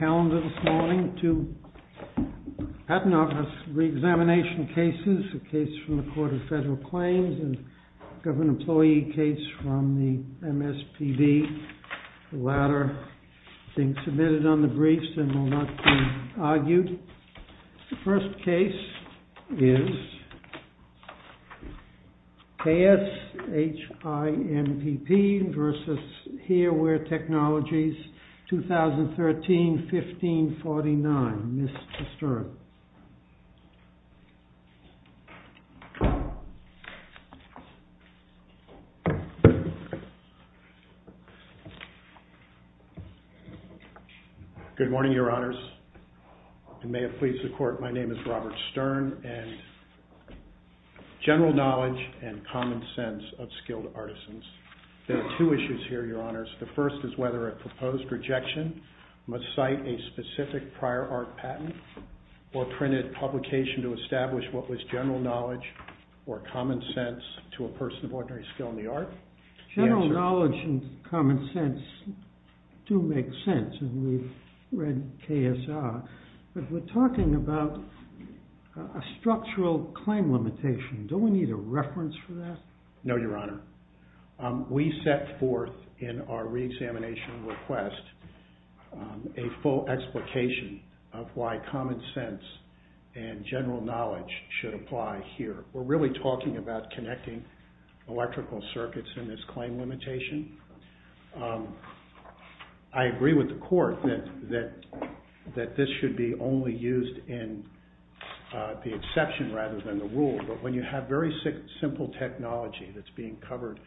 calendar this morning, two patent office re-examination cases, a case from the Court of Federal Claims and a government employee case from the MSPB. The latter being submitted on the briefs and will not be argued. The first case is KSHIMPP v. Hear-Wear Technologies, 2013-15-49. Mr. Stern. Good morning, Your Honors, and may it please the Court, my name is Robert Stern, and general knowledge and common sense of skilled artisans. There are two issues here, Your Honors. The first is whether a proposed rejection must cite a specific prior art patent. Or printed publication to establish what was general knowledge or common sense to a person of ordinary skill in the art. General knowledge and common sense do make sense, and we've read KSR, but we're talking about a structural claim limitation. Don't we need a reference for that? No, Your Honor. We set forth in our re-examination request a full explication of why common sense and general knowledge should apply here. We're really talking about connecting electrical circuits in this claim limitation. I agree with the Court that this should be only used in the exception rather than the rule, but when you have very simple technology that's being covered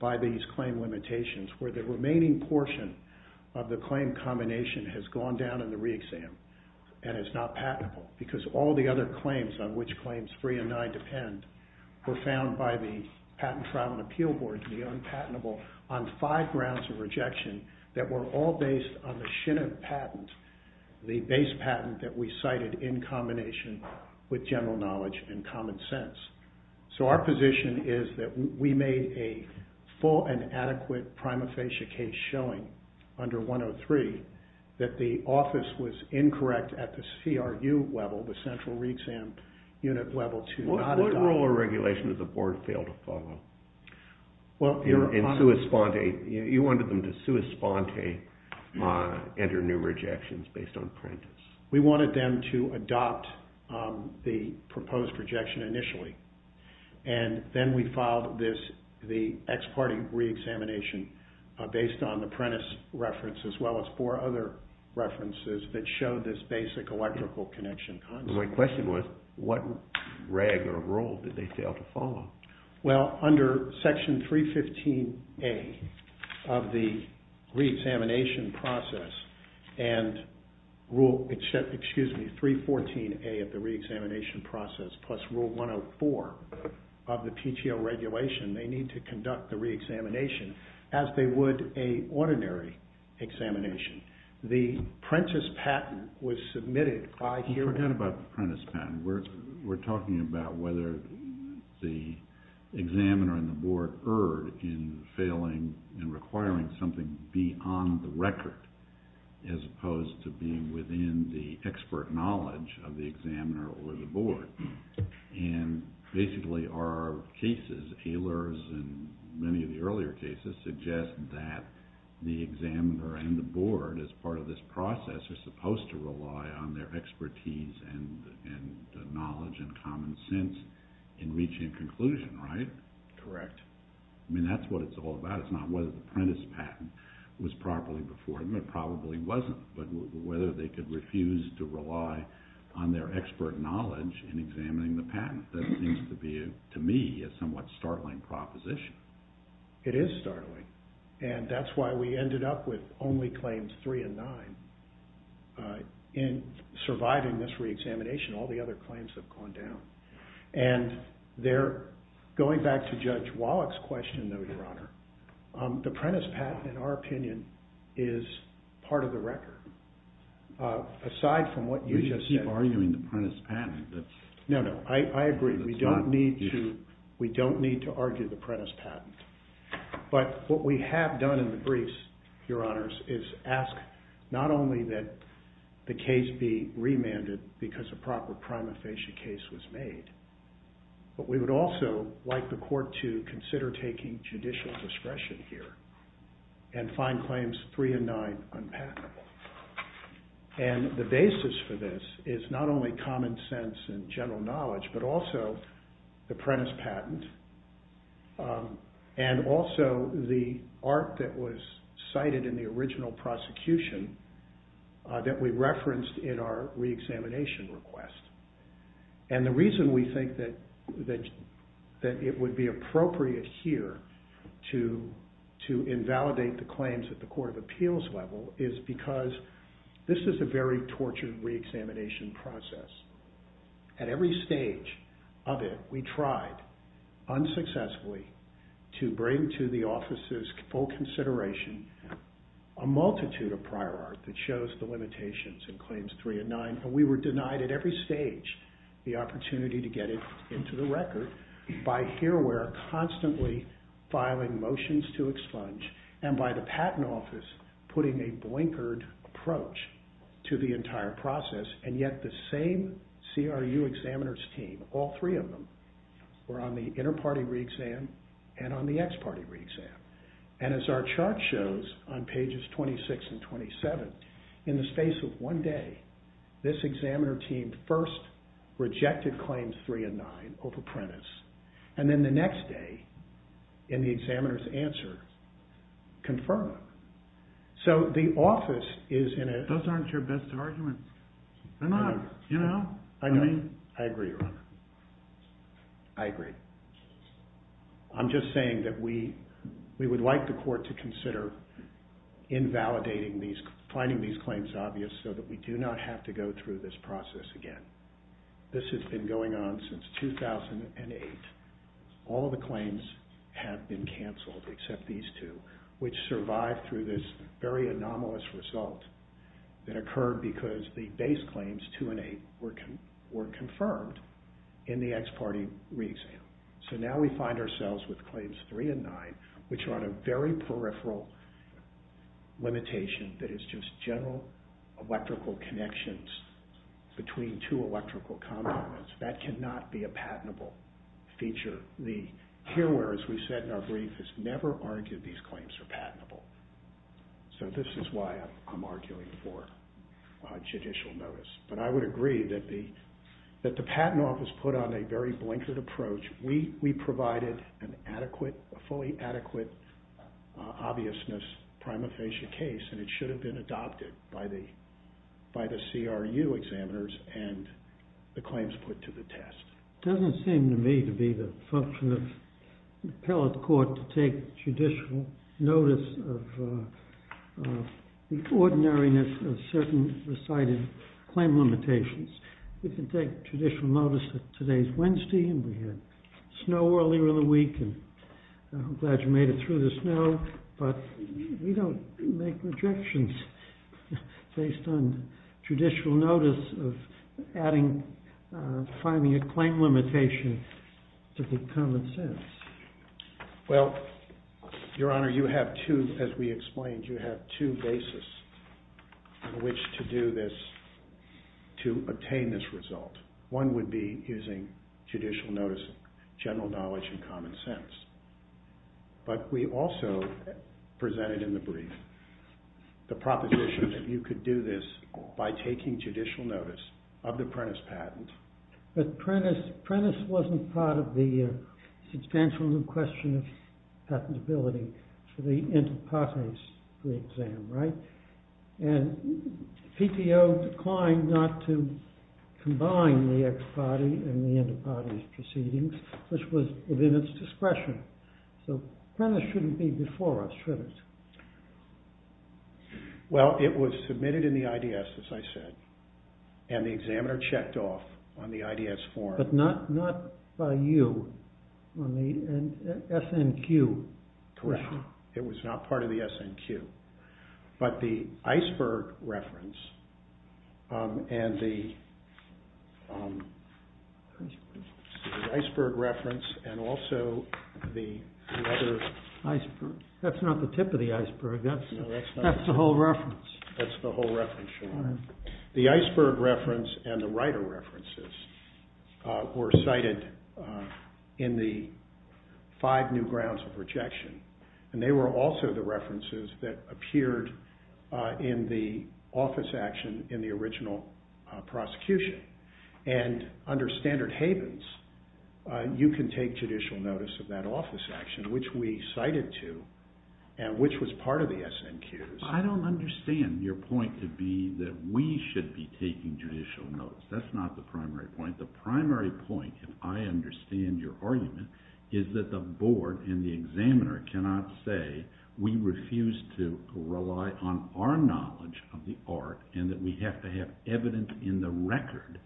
by these claim limitations, where the remaining portion of the claim combination has gone down in the re-exam and is not patentable, because all the other claims on which claims 3 and 9 depend were found by the Patent Trial and Appeal Board to be unpatentable on five grounds of rejection that were all based on the Shiniff patent, the base patent that we cited in combination with general knowledge and common sense. So our position is that we made a full and adequate prima facie case showing under 103 that the office was incorrect at the CRU level, the central re-exam unit level, to not adopt. What rule or regulation did the Board fail to follow? Well, Your Honor. In sua sponte, you wanted them to sua sponte enter new rejections based on prentice. We wanted them to adopt the proposed rejection initially, and then we filed the ex parte re-examination based on the prentice reference as well as four other references that showed this basic electrical connection concept. My question was, what reg or rule did they fail to follow? Well, under section 315A of the re-examination process and rule, excuse me, 314A of the re-examination process plus rule 104 of the PTO regulation, they need to conduct the re-examination as they would a ordinary examination. The prentice patent was submitted by... Forget about the prentice patent. We're talking about whether the examiner and the Board erred in failing and requiring something beyond the record as opposed to being within the expert knowledge of the examiner or the Board. And basically, our cases, Ehlers and many of the earlier cases, suggest that the examiner and the Board, as part of this process, are supposed to rely on their expertise and knowledge and common sense in reaching a conclusion, right? Correct. I mean, that's what it's all about. It's not whether the prentice patent was properly before them. It probably wasn't. But whether they could refuse to rely on their expert knowledge in examining the patent. That seems to be, to me, a somewhat startling proposition. It is startling. And that's why we ended up with only Claims 3 and 9. In surviving this re-examination, all the other claims have gone down. And going back to Judge Wallach's question, though, Your Honor, the prentice patent, in our opinion, is part of the record. Aside from what you just said... You keep arguing the prentice patent. No, no. I agree. We don't need to argue the prentice patent. But what we have done in the briefs, Your Honors, is ask not only that the case be remanded because a proper prima facie case was made, but we would also like the court to consider taking judicial discretion here and find Claims 3 and 9 unpatentable. And the basis for this is not only common sense and general knowledge, but also the prentice patent and also the art that was cited in the original prosecution that we referenced in our re-examination request. And the reason we think that it would be appropriate here to invalidate the claims at the court of appeals level is because this is a very tortured re-examination process. At every stage of it, we tried, unsuccessfully, to bring to the office's full consideration a multitude of prior art that shows the limitations in Claims 3 and 9, but we were denied at every stage the opportunity to get it into the record by Hearware constantly filing motions to expunge and by the Patent Office putting a blinkered approach to the entire process. And yet the same CRU examiner's team, all three of them, were on the inter-party re-exam and on the ex-party re-exam. And as our chart shows on pages 26 and 27, in the space of one day, this examiner team first rejected Claims 3 and 9 over prentice, and then the next day, in the examiner's answer, confirmed them. So the office is in a... Those aren't your best arguments. They're not. I agree. I agree. I'm just saying that we would like the court to consider invalidating these, finding these claims obvious so that we do not have to go through this process again. This has been going on since 2008. All of the claims have been cancelled, except these two, which survived through this very anomalous result that occurred because the base claims, 2 and 8, were confirmed in the ex-party re-exam. So now we find ourselves with Claims 3 and 9, which are on a very peripheral limitation that is just general electrical connections between two electrical components. That cannot be a patentable feature. The hearer, as we said in our brief, has never argued these claims are patentable. So this is why I'm arguing for judicial notice. But I would agree that the patent office put on a very blinkered approach. We provided a fully adequate obviousness prima facie case, and it should have been adopted by the CRU examiners and the claims put to the test. It doesn't seem to me to be the function of the appellate court to take judicial notice of the ordinariness of certain recited claim limitations. We can take judicial notice that today is Wednesday and we had snow earlier in the week, and I'm glad you made it through the snow, but we don't make rejections based on judicial notice of finding a claim limitation to the common sense. Well, Your Honor, you have two, as we explained, you have two bases on which to do this, to obtain this result. One would be using judicial notice, general knowledge and common sense. But we also presented in the brief the proposition that you could do this by taking judicial notice of the Prentiss patent. But Prentiss wasn't part of the substantial new question of patentability for the inter partes pre-exam, right? And PTO declined not to combine the ex parte and the inter partes proceedings, which was within its discretion. So Prentiss shouldn't be before us, should it? Well, it was submitted in the IDS, as I said, and the examiner checked off on the IDS form. But not by you, on the SNQ. Correct. It was not part of the SNQ. But the Iceberg reference and also the other... That's not the tip of the iceberg. That's the whole reference. That's the whole reference, Your Honor. The Iceberg reference and the writer references were cited in the five new grounds of rejection. And they were also the references that appeared in the office action in the original prosecution. And under standard havens, you can take judicial notice of that office action, which we cited to and which was part of the SNQs. I don't understand your point to be that we should be taking judicial notice. That's not the primary point. The primary point, if I understand your argument, is that the board and the examiner cannot say we refuse to rely on our knowledge of the art and that we have to have evidence in the record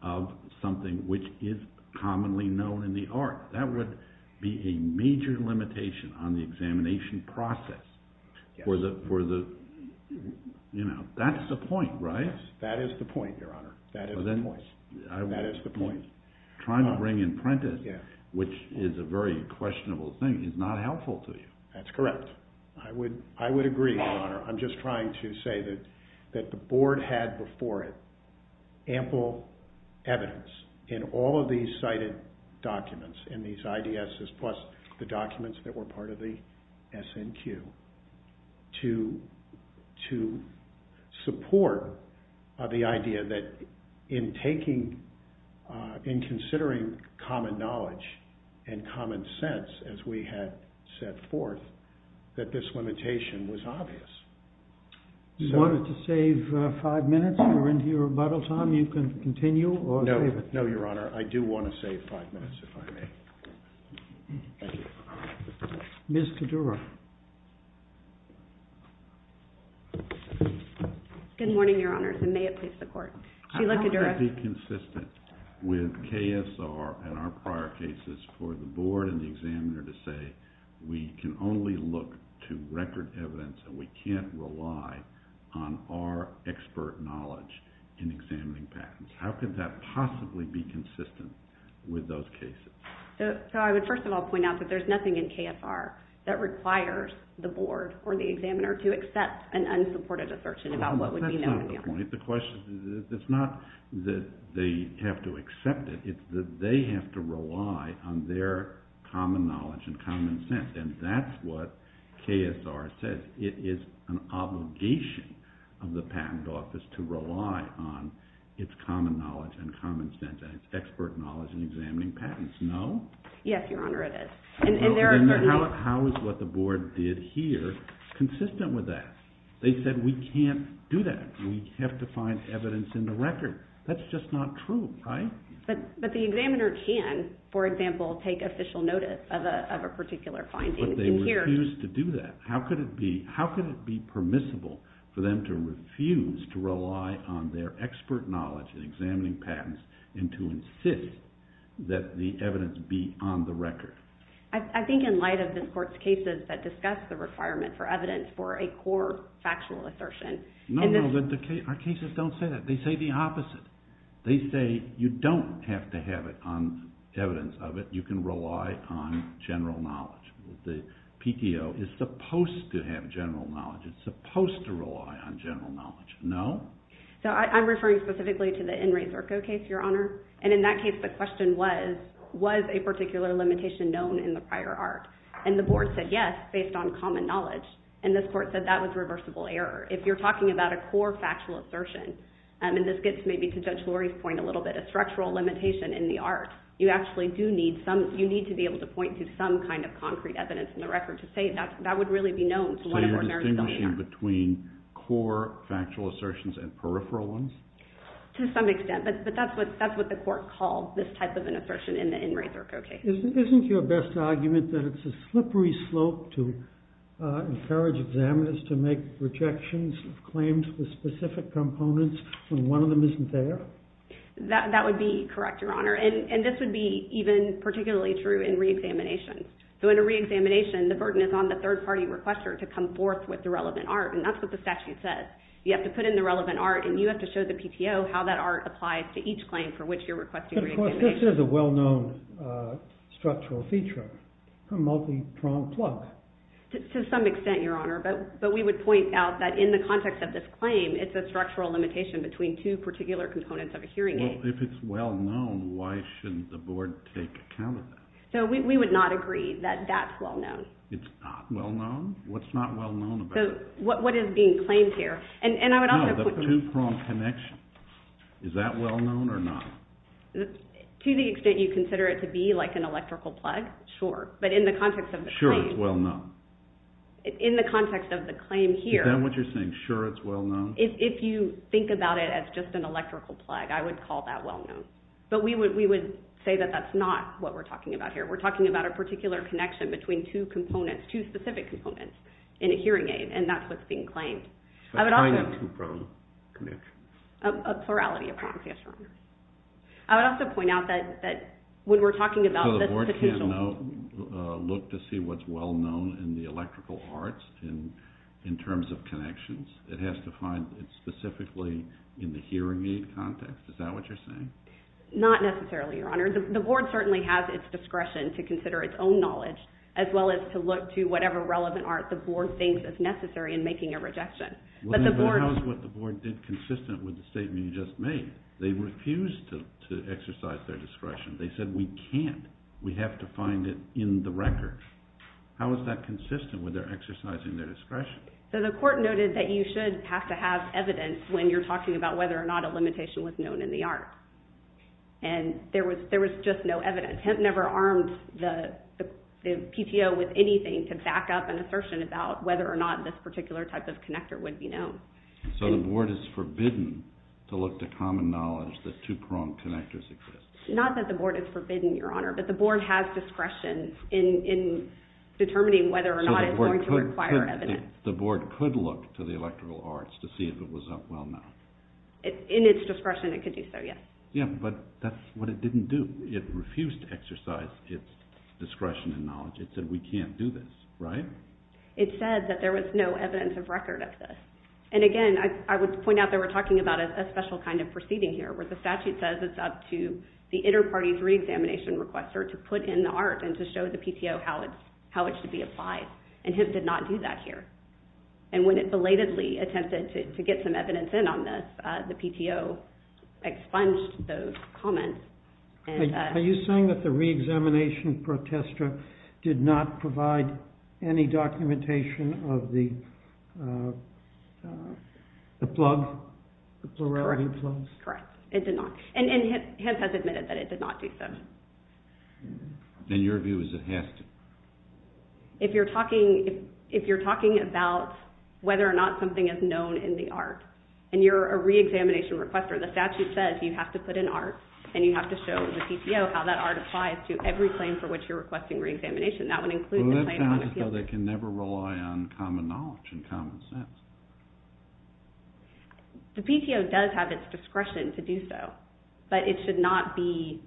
of something which is commonly known in the art. That would be a major limitation on the examination process. That's the point, right? That is the point, Your Honor. That is the point. Trying to bring in Prentiss, which is a very questionable thing, is not helpful to you. That's correct. I would agree, Your Honor. I'm just trying to say that the board had before it ample evidence in all of these cited documents and these IDSs plus the documents that were part of the SNQ to support the idea that in taking, in considering common knowledge and common sense, as we had set forth, that this limitation was obvious. Do you want to save five minutes? We're into your rebuttal time. You can continue or save it. No, Your Honor. I do want to save five minutes, if I may. Thank you. Ms. Kedura. Good morning, Your Honor, and may it please the Court. Sheila Kedura. How could it be consistent with KSR and our prior cases for the board and the examiner to say we can only look to record evidence and we can't rely on our expert knowledge in examining patents? How could that possibly be consistent with those cases? I would first of all point out that there's nothing in KSR that requires the board or the examiner to accept an unsupported assertion about what would be known. That's not the point. It's not that they have to accept it. It's that they have to rely on their common knowledge and common sense, and that's what KSR says. It is an obligation of the Patent Office to rely on its common knowledge and common sense and its expert knowledge in examining patents, no? Yes, Your Honor, it is. How is what the board did here consistent with that? They said we can't do that. We have to find evidence in the record. That's just not true, right? But the examiner can, for example, take official notice of a particular finding. But they refused to do that. How could it be permissible for them to refuse to rely on their expert knowledge in examining patents and to insist that the evidence be on the record? I think in light of this Court's cases that discuss the requirement for evidence for a core factual assertion... No, no, our cases don't say that. They say the opposite. They say you don't have to have it on evidence of it. You can rely on general knowledge. The PTO is supposed to have general knowledge. It's supposed to rely on general knowledge, no? So I'm referring specifically to the In Re Zerco case, Your Honor. And in that case, the question was, was a particular limitation known in the prior art? And the board said yes, based on common knowledge. And this Court said that was reversible error. If you're talking about a core factual assertion, and this gets maybe to Judge Lori's point a little bit, a structural limitation in the art, you actually do need some... concrete evidence in the record to say that would really be known. So you're distinguishing between core factual assertions and peripheral ones? To some extent, but that's what the Court called this type of an assertion in the In Re Zerco case. Isn't your best argument that it's a slippery slope to encourage examiners to make rejections of claims with specific components when one of them isn't there? That would be correct, Your Honor. And this would be even particularly true in reexamination. So in a reexamination, the burden is on the third-party requester to come forth with the relevant art, and that's what the statute says. You have to put in the relevant art, and you have to show the PTO how that art applies to each claim for which you're requesting reexamination. But of course, this is a well-known structural feature, a multi-pronged plug. To some extent, Your Honor, but we would point out that in the context of this claim, it's a structural limitation between two particular components of a hearing aid. Well, if it's well-known, why shouldn't the board take account of that? So we would not agree that that's well-known. It's not well-known? What's not well-known about it? What is being claimed here? No, the two-pronged connection. Is that well-known or not? To the extent you consider it to be like an electrical plug, sure. But in the context of the claim... Sure it's well-known. In the context of the claim here... Is that what you're saying, sure it's well-known? If you think about it as just an electrical plug, I would call that well-known. But we would say that that's not what we're talking about here. We're talking about a particular connection between two specific components in a hearing aid, and that's what's being claimed. A kind of two-pronged connection. A plurality of prongs, yes, Your Honor. I would also point out that when we're talking about... So the board can't look to see what's well-known in the electrical arts in terms of connections? It has to find it specifically in the hearing aid context? Is that what you're saying? Not necessarily, Your Honor. The board certainly has its discretion to consider its own knowledge as well as to look to whatever relevant art the board thinks is necessary in making a rejection. But how is what the board did consistent with the statement you just made? They refused to exercise their discretion. They said, we can't. We have to find it in the record. How is that consistent with their exercising their discretion? The court noted that you should have to have evidence when you're talking about whether or not a limitation was known in the art. And there was just no evidence. Hemp never armed the PTO with anything to back up an assertion about whether or not this particular type of connector would be known. So the board is forbidden to look to common knowledge that two-pronged connectors exist? Not that the board is forbidden, Your Honor, but the board has discretion in determining whether or not it's going to require evidence. So the board could look to the electrical arts to see if it was up well enough? In its discretion, it could do so, yes. But that's what it didn't do. It refused to exercise its discretion and knowledge. It said, we can't do this, right? It said that there was no evidence of record of this. And again, I would point out that we're talking about a special kind of proceeding here, where the statute says it's up to the inter-party's re-examination requester to put in the art and to show the PTO how it should be applied. And HIPP did not do that here. And when it belatedly attempted to get some evidence in on this, the PTO expunged those comments. Are you saying that the re-examination protester did not provide any documentation of the plug, the plurality plugs? Correct. It did not. And HIPP has admitted that it did not do so. Then your view is it has to? If you're talking about whether or not something is known in the art and you're a re-examination requester, the statute says you have to put in art and you have to show the PTO how that art applies to every claim for which you're requesting re-examination. That would include the claim on appeal. Well, that sounds as though they can never rely on common knowledge and common sense. The PTO does have its discretion to do so, but it should not be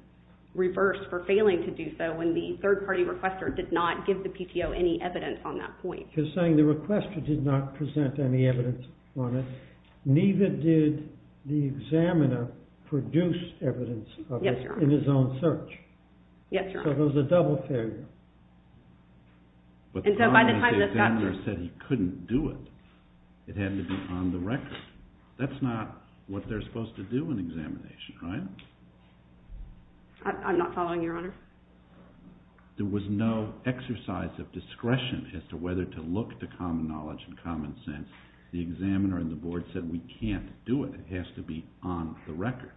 reversed for failing to do so when the third-party requester did not give the PTO any evidence on that point. You're saying the requester did not present any evidence on it, neither did the examiner produce evidence of it in his own search. Yes, Your Honor. So there's a double failure. And so by the time the examiner said he couldn't do it, it had to be on the record. That's not what they're supposed to do in examination, right? I'm not following, Your Honor. There was no exercise of discretion as to whether to look to common knowledge and common sense. The examiner and the board said, we can't do it, it has to be on the record.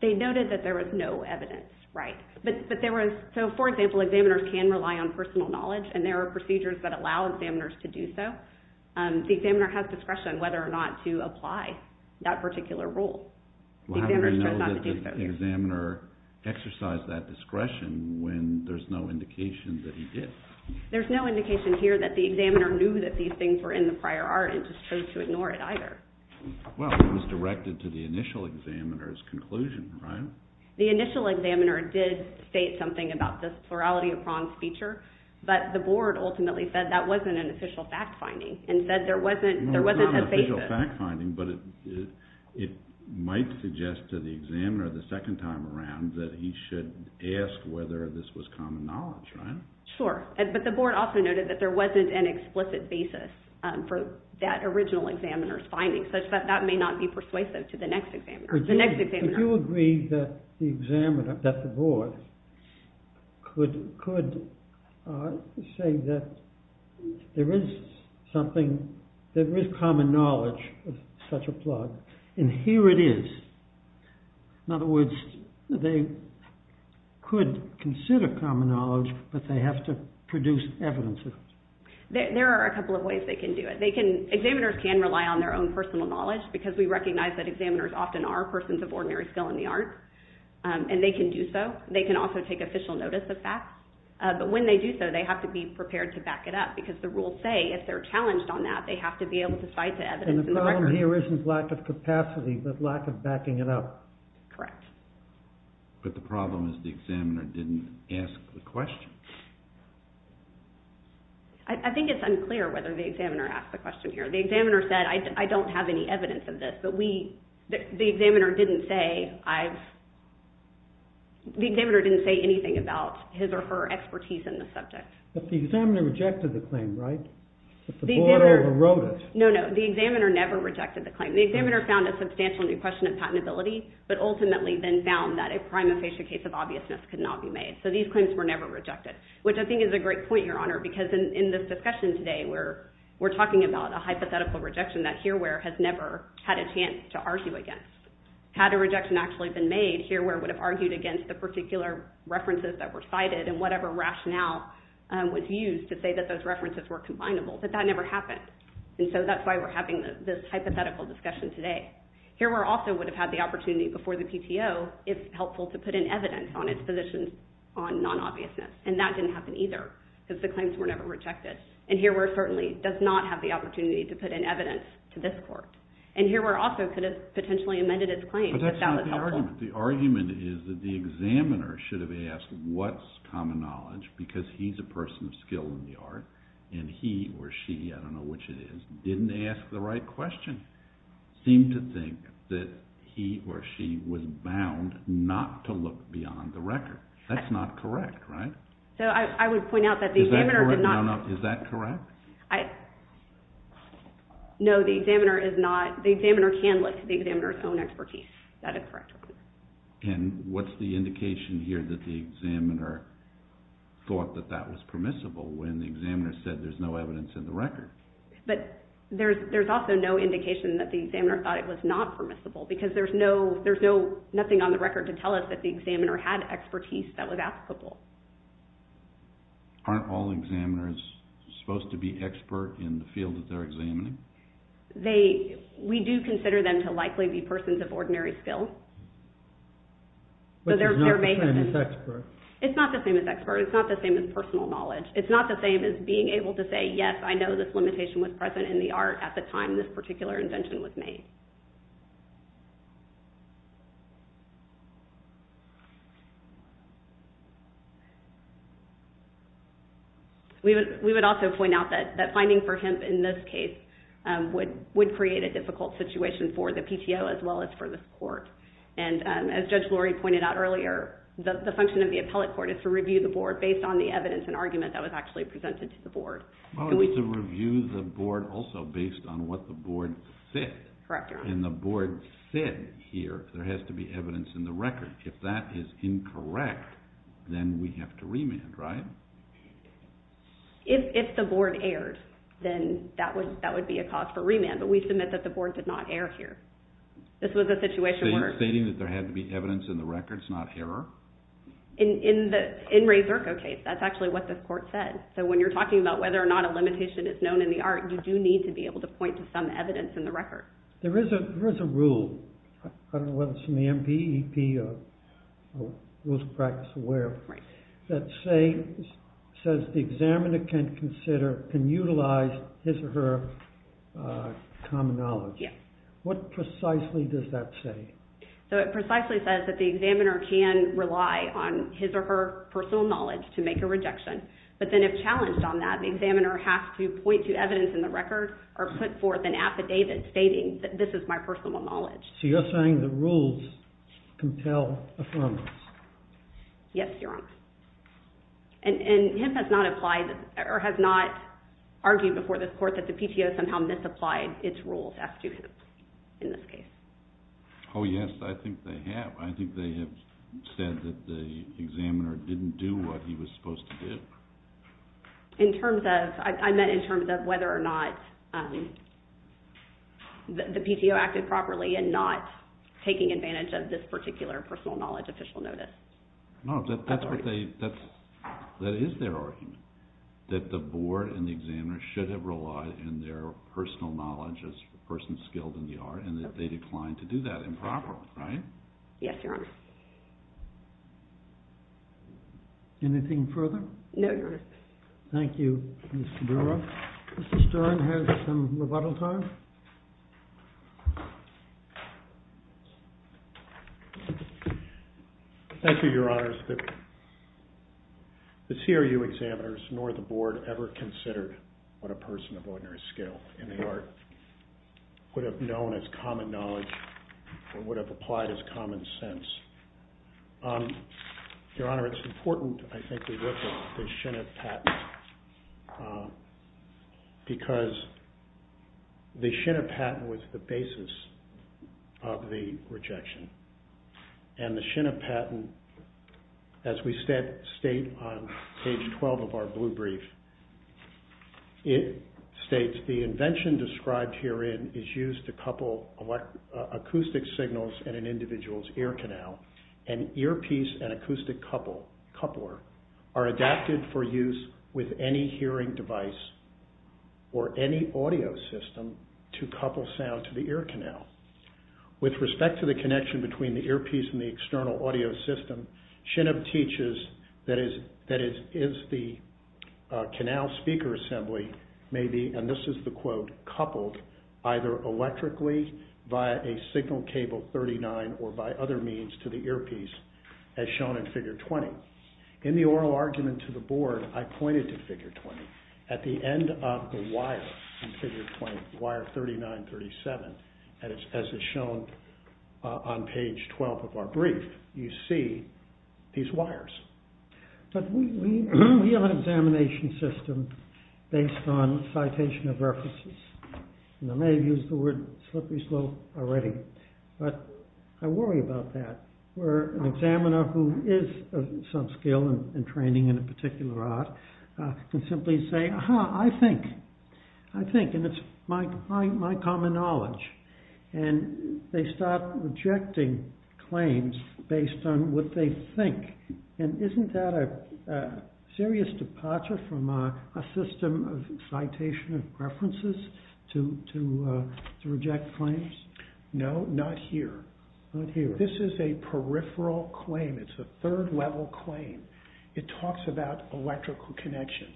They noted that there was no evidence, right. So, for example, examiners can rely on personal knowledge and there are procedures that allow examiners to do so. The examiner has discretion whether or not to apply that particular rule. Well, how do we know that the examiner exercised that discretion when there's no indication that he did? There's no indication here that the examiner knew that these things were in the prior art and just chose to ignore it either. Well, it was directed to the initial examiner's conclusion, right? The initial examiner did state something about this plurality of prongs feature, but the board ultimately said that wasn't an official fact-finding and said there wasn't a basis. It's not a fact-finding, but it might suggest to the examiner the second time around that he should ask whether this was common knowledge, right? Sure, but the board also noted that there wasn't an explicit basis for that original examiner's findings, such that that may not be persuasive to the next examiner. Would you agree that the board could say that there is common knowledge of such a plug, and here it is? In other words, they could consider common knowledge, but they have to produce evidence of it. There are a couple of ways they can do it. Examiners can rely on their own personal knowledge because we recognize that examiners often are persons of ordinary skill in the art, and they can do so. They can also take official notice of facts, but when they do so, they have to be prepared to back it up because the rules say if they're challenged on that, they have to be able to cite the evidence in the record. And the problem here isn't lack of capacity, but lack of backing it up. Correct. But the problem is the examiner didn't ask the question. I think it's unclear whether the examiner asked the question here. The examiner said, I don't have any evidence of this, but the examiner didn't say anything about his or her expertise in the subject. But the examiner rejected the claim, right? The board overrode it. No, no. The examiner never rejected the claim. The examiner found a substantial question of patentability, but ultimately then found that a prima facie case of obviousness could not be made. So these claims were never rejected, which I think is a great point, Your Honor, because in this discussion today, we're talking about a hypothetical rejection that Hearware has never had a chance to argue against. Had a rejection actually been made, Hearware would have argued against the particular references that were cited and whatever rationale was used to say that those references were combinable. But that never happened. And so that's why we're having this hypothetical discussion today. Hearware also would have had the opportunity before the PTO, if helpful, to put in evidence on its positions on non-obviousness. And that didn't happen either, because the claims were never rejected. And Hearware certainly does not have the opportunity to put in evidence to this court. And Hearware also could have potentially amended its claim, but that was helpful. But that's not the argument. The argument is that the examiner should have asked, what's common knowledge? Because he's a person of skill in the art. And he or she, I don't know which it is, didn't ask the right question, seemed to think that he or she was bound not to look beyond the record. That's not correct, right? So I would point out that the examiner did not. Is that correct? No, no. Is that correct? No, the examiner is not. The examiner can look to the examiner's own expertise. That is correct. And what's the indication here that the examiner thought that that was permissible when the examiner said there's no evidence in the record? But there's also no indication that the examiner thought it was not permissible, because there's nothing on the record to tell us that the examiner had expertise that was applicable. Aren't all examiners supposed to be expert in the field that they're examining? We do consider them to likely be persons of ordinary skill. But it's not the same as expert. It's not the same as expert. It's not the same as personal knowledge. It's not the same as being able to say, yes, I know this limitation was present in the art at the time this particular invention was made. We would also point out that finding for hemp in this case would create a difficult situation for the PTO as well as for this court. And as Judge Lurie pointed out earlier, the function of the appellate court is to review the board based on the evidence and argument that was actually presented to the board. Well, it's to review the board also based on what the board Correct. So it's to review the board based on what the board said. And the board said here there has to be evidence in the record. If that is incorrect, then we have to remand, right? If the board erred, then that would be a cause for remand. But we submit that the board did not err here. This was a situation where... So you're stating that there had to be evidence in the records, not error? In Ray Zirko's case, that's actually what the court said. So when you're talking about whether or not a limitation is known in the art, you do need to be able to point to some evidence in the record. There is a rule. I don't know whether it's in the MPEP or Rules of Practice Aware, that says the examiner can consider, can utilize his or her common knowledge. What precisely does that say? So it precisely says that the examiner can rely on his or her personal knowledge to make a rejection. But then if challenged on that, the examiner has to point to evidence in the record or put forth an affidavit stating that this is my personal knowledge. So you're saying the rules compel affirmance? Yes, Your Honor. And HIP has not applied, or has not argued before this court that the PTO somehow misapplied its rules as to HIP in this case. Oh yes, I think they have. I think they have said that the examiner didn't do what he was supposed to do. In terms of, I meant in terms of whether or not the PTO acted properly in not taking advantage of this particular personal knowledge official notice. No, that's what they, that is their argument. That the board and the examiner should have relied on their personal knowledge as a person skilled in the art and that they declined to do that improperly, right? Yes, Your Honor. Anything further? No, Your Honor. Thank you, Ms. Saburo. Mr. Stern has some rebuttal time. Thank you. Thank you, Your Honors. The CRU examiners nor the board ever considered what a person of ordinary skill in the art would have known as common knowledge or would have applied as common sense. Your Honor, it's important, I think, to look at the Shinnip patent because the Shinnip patent was the basis of the rejection and the Shinnip patent, as we state on page 12 of our blue brief, it states, the invention described herein is used to couple acoustic signals in an individual's ear canal and earpiece and acoustic coupler are adapted for use with any hearing device or any audio system to couple sound to the ear canal. With respect to the connection between the earpiece and the external audio system, Shinnip teaches that is the canal speaker assembly may be, and this is the quote, coupled either electrically via a signal cable 39 or by other means to the earpiece as shown in figure 20. In the oral argument to the board, I pointed to figure 20. At the end of the wire in figure 20, wire 39, 37, as is shown on page 12 of our brief, you see these wires. But we have an examination system based on citation of references. And I may have used the word slippery slope already, but I worry about that. Where an examiner who is of some skill and training in a particular art can simply say, aha, I think. I think, and it's my common knowledge. And they start rejecting claims based on what they think. And isn't that a serious departure from a system of citation of references to reject claims? No, not here. Not here. This is a peripheral claim. It's a third level claim. It talks about electrical connection.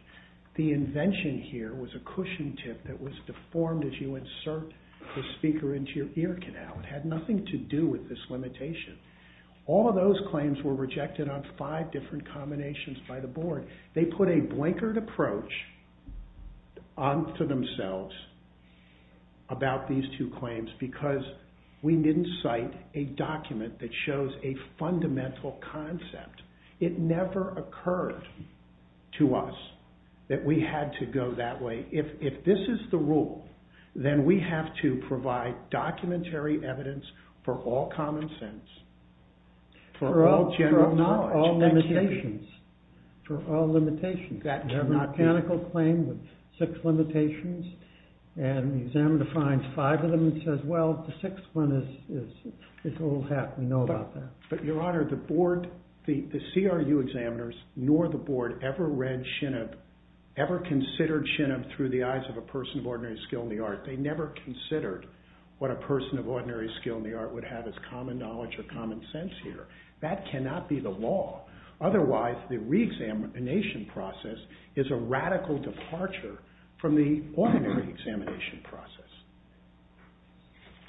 The invention here was a cushion tip that was deformed as you insert the speaker into your ear canal. It had nothing to do with this limitation. All of those claims were rejected on five different combinations by the board. They put a blankered approach onto themselves about these two claims because we didn't cite a document that shows a fundamental concept. It never occurred to us that we had to go that way. If this is the rule, then we have to provide documentary evidence for all common sense, for all general knowledge. For all limitations. For all limitations. A mechanical claim with six limitations and the examiner defines five of them and says, well, the sixth one is old hat. We know about that. Your Honor, the board, the CRU examiners, nor the board ever read Shinab, ever considered Shinab through the eyes of a person of ordinary skill in the art. They never considered what a person of ordinary skill in the art would have as common knowledge or common sense here. That cannot be the law. Otherwise, the re-examination process is a radical departure from the ordinary examination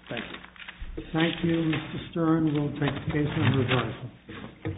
process. Thank you. Thank you, Mr. Stern. We'll take the case in reverse.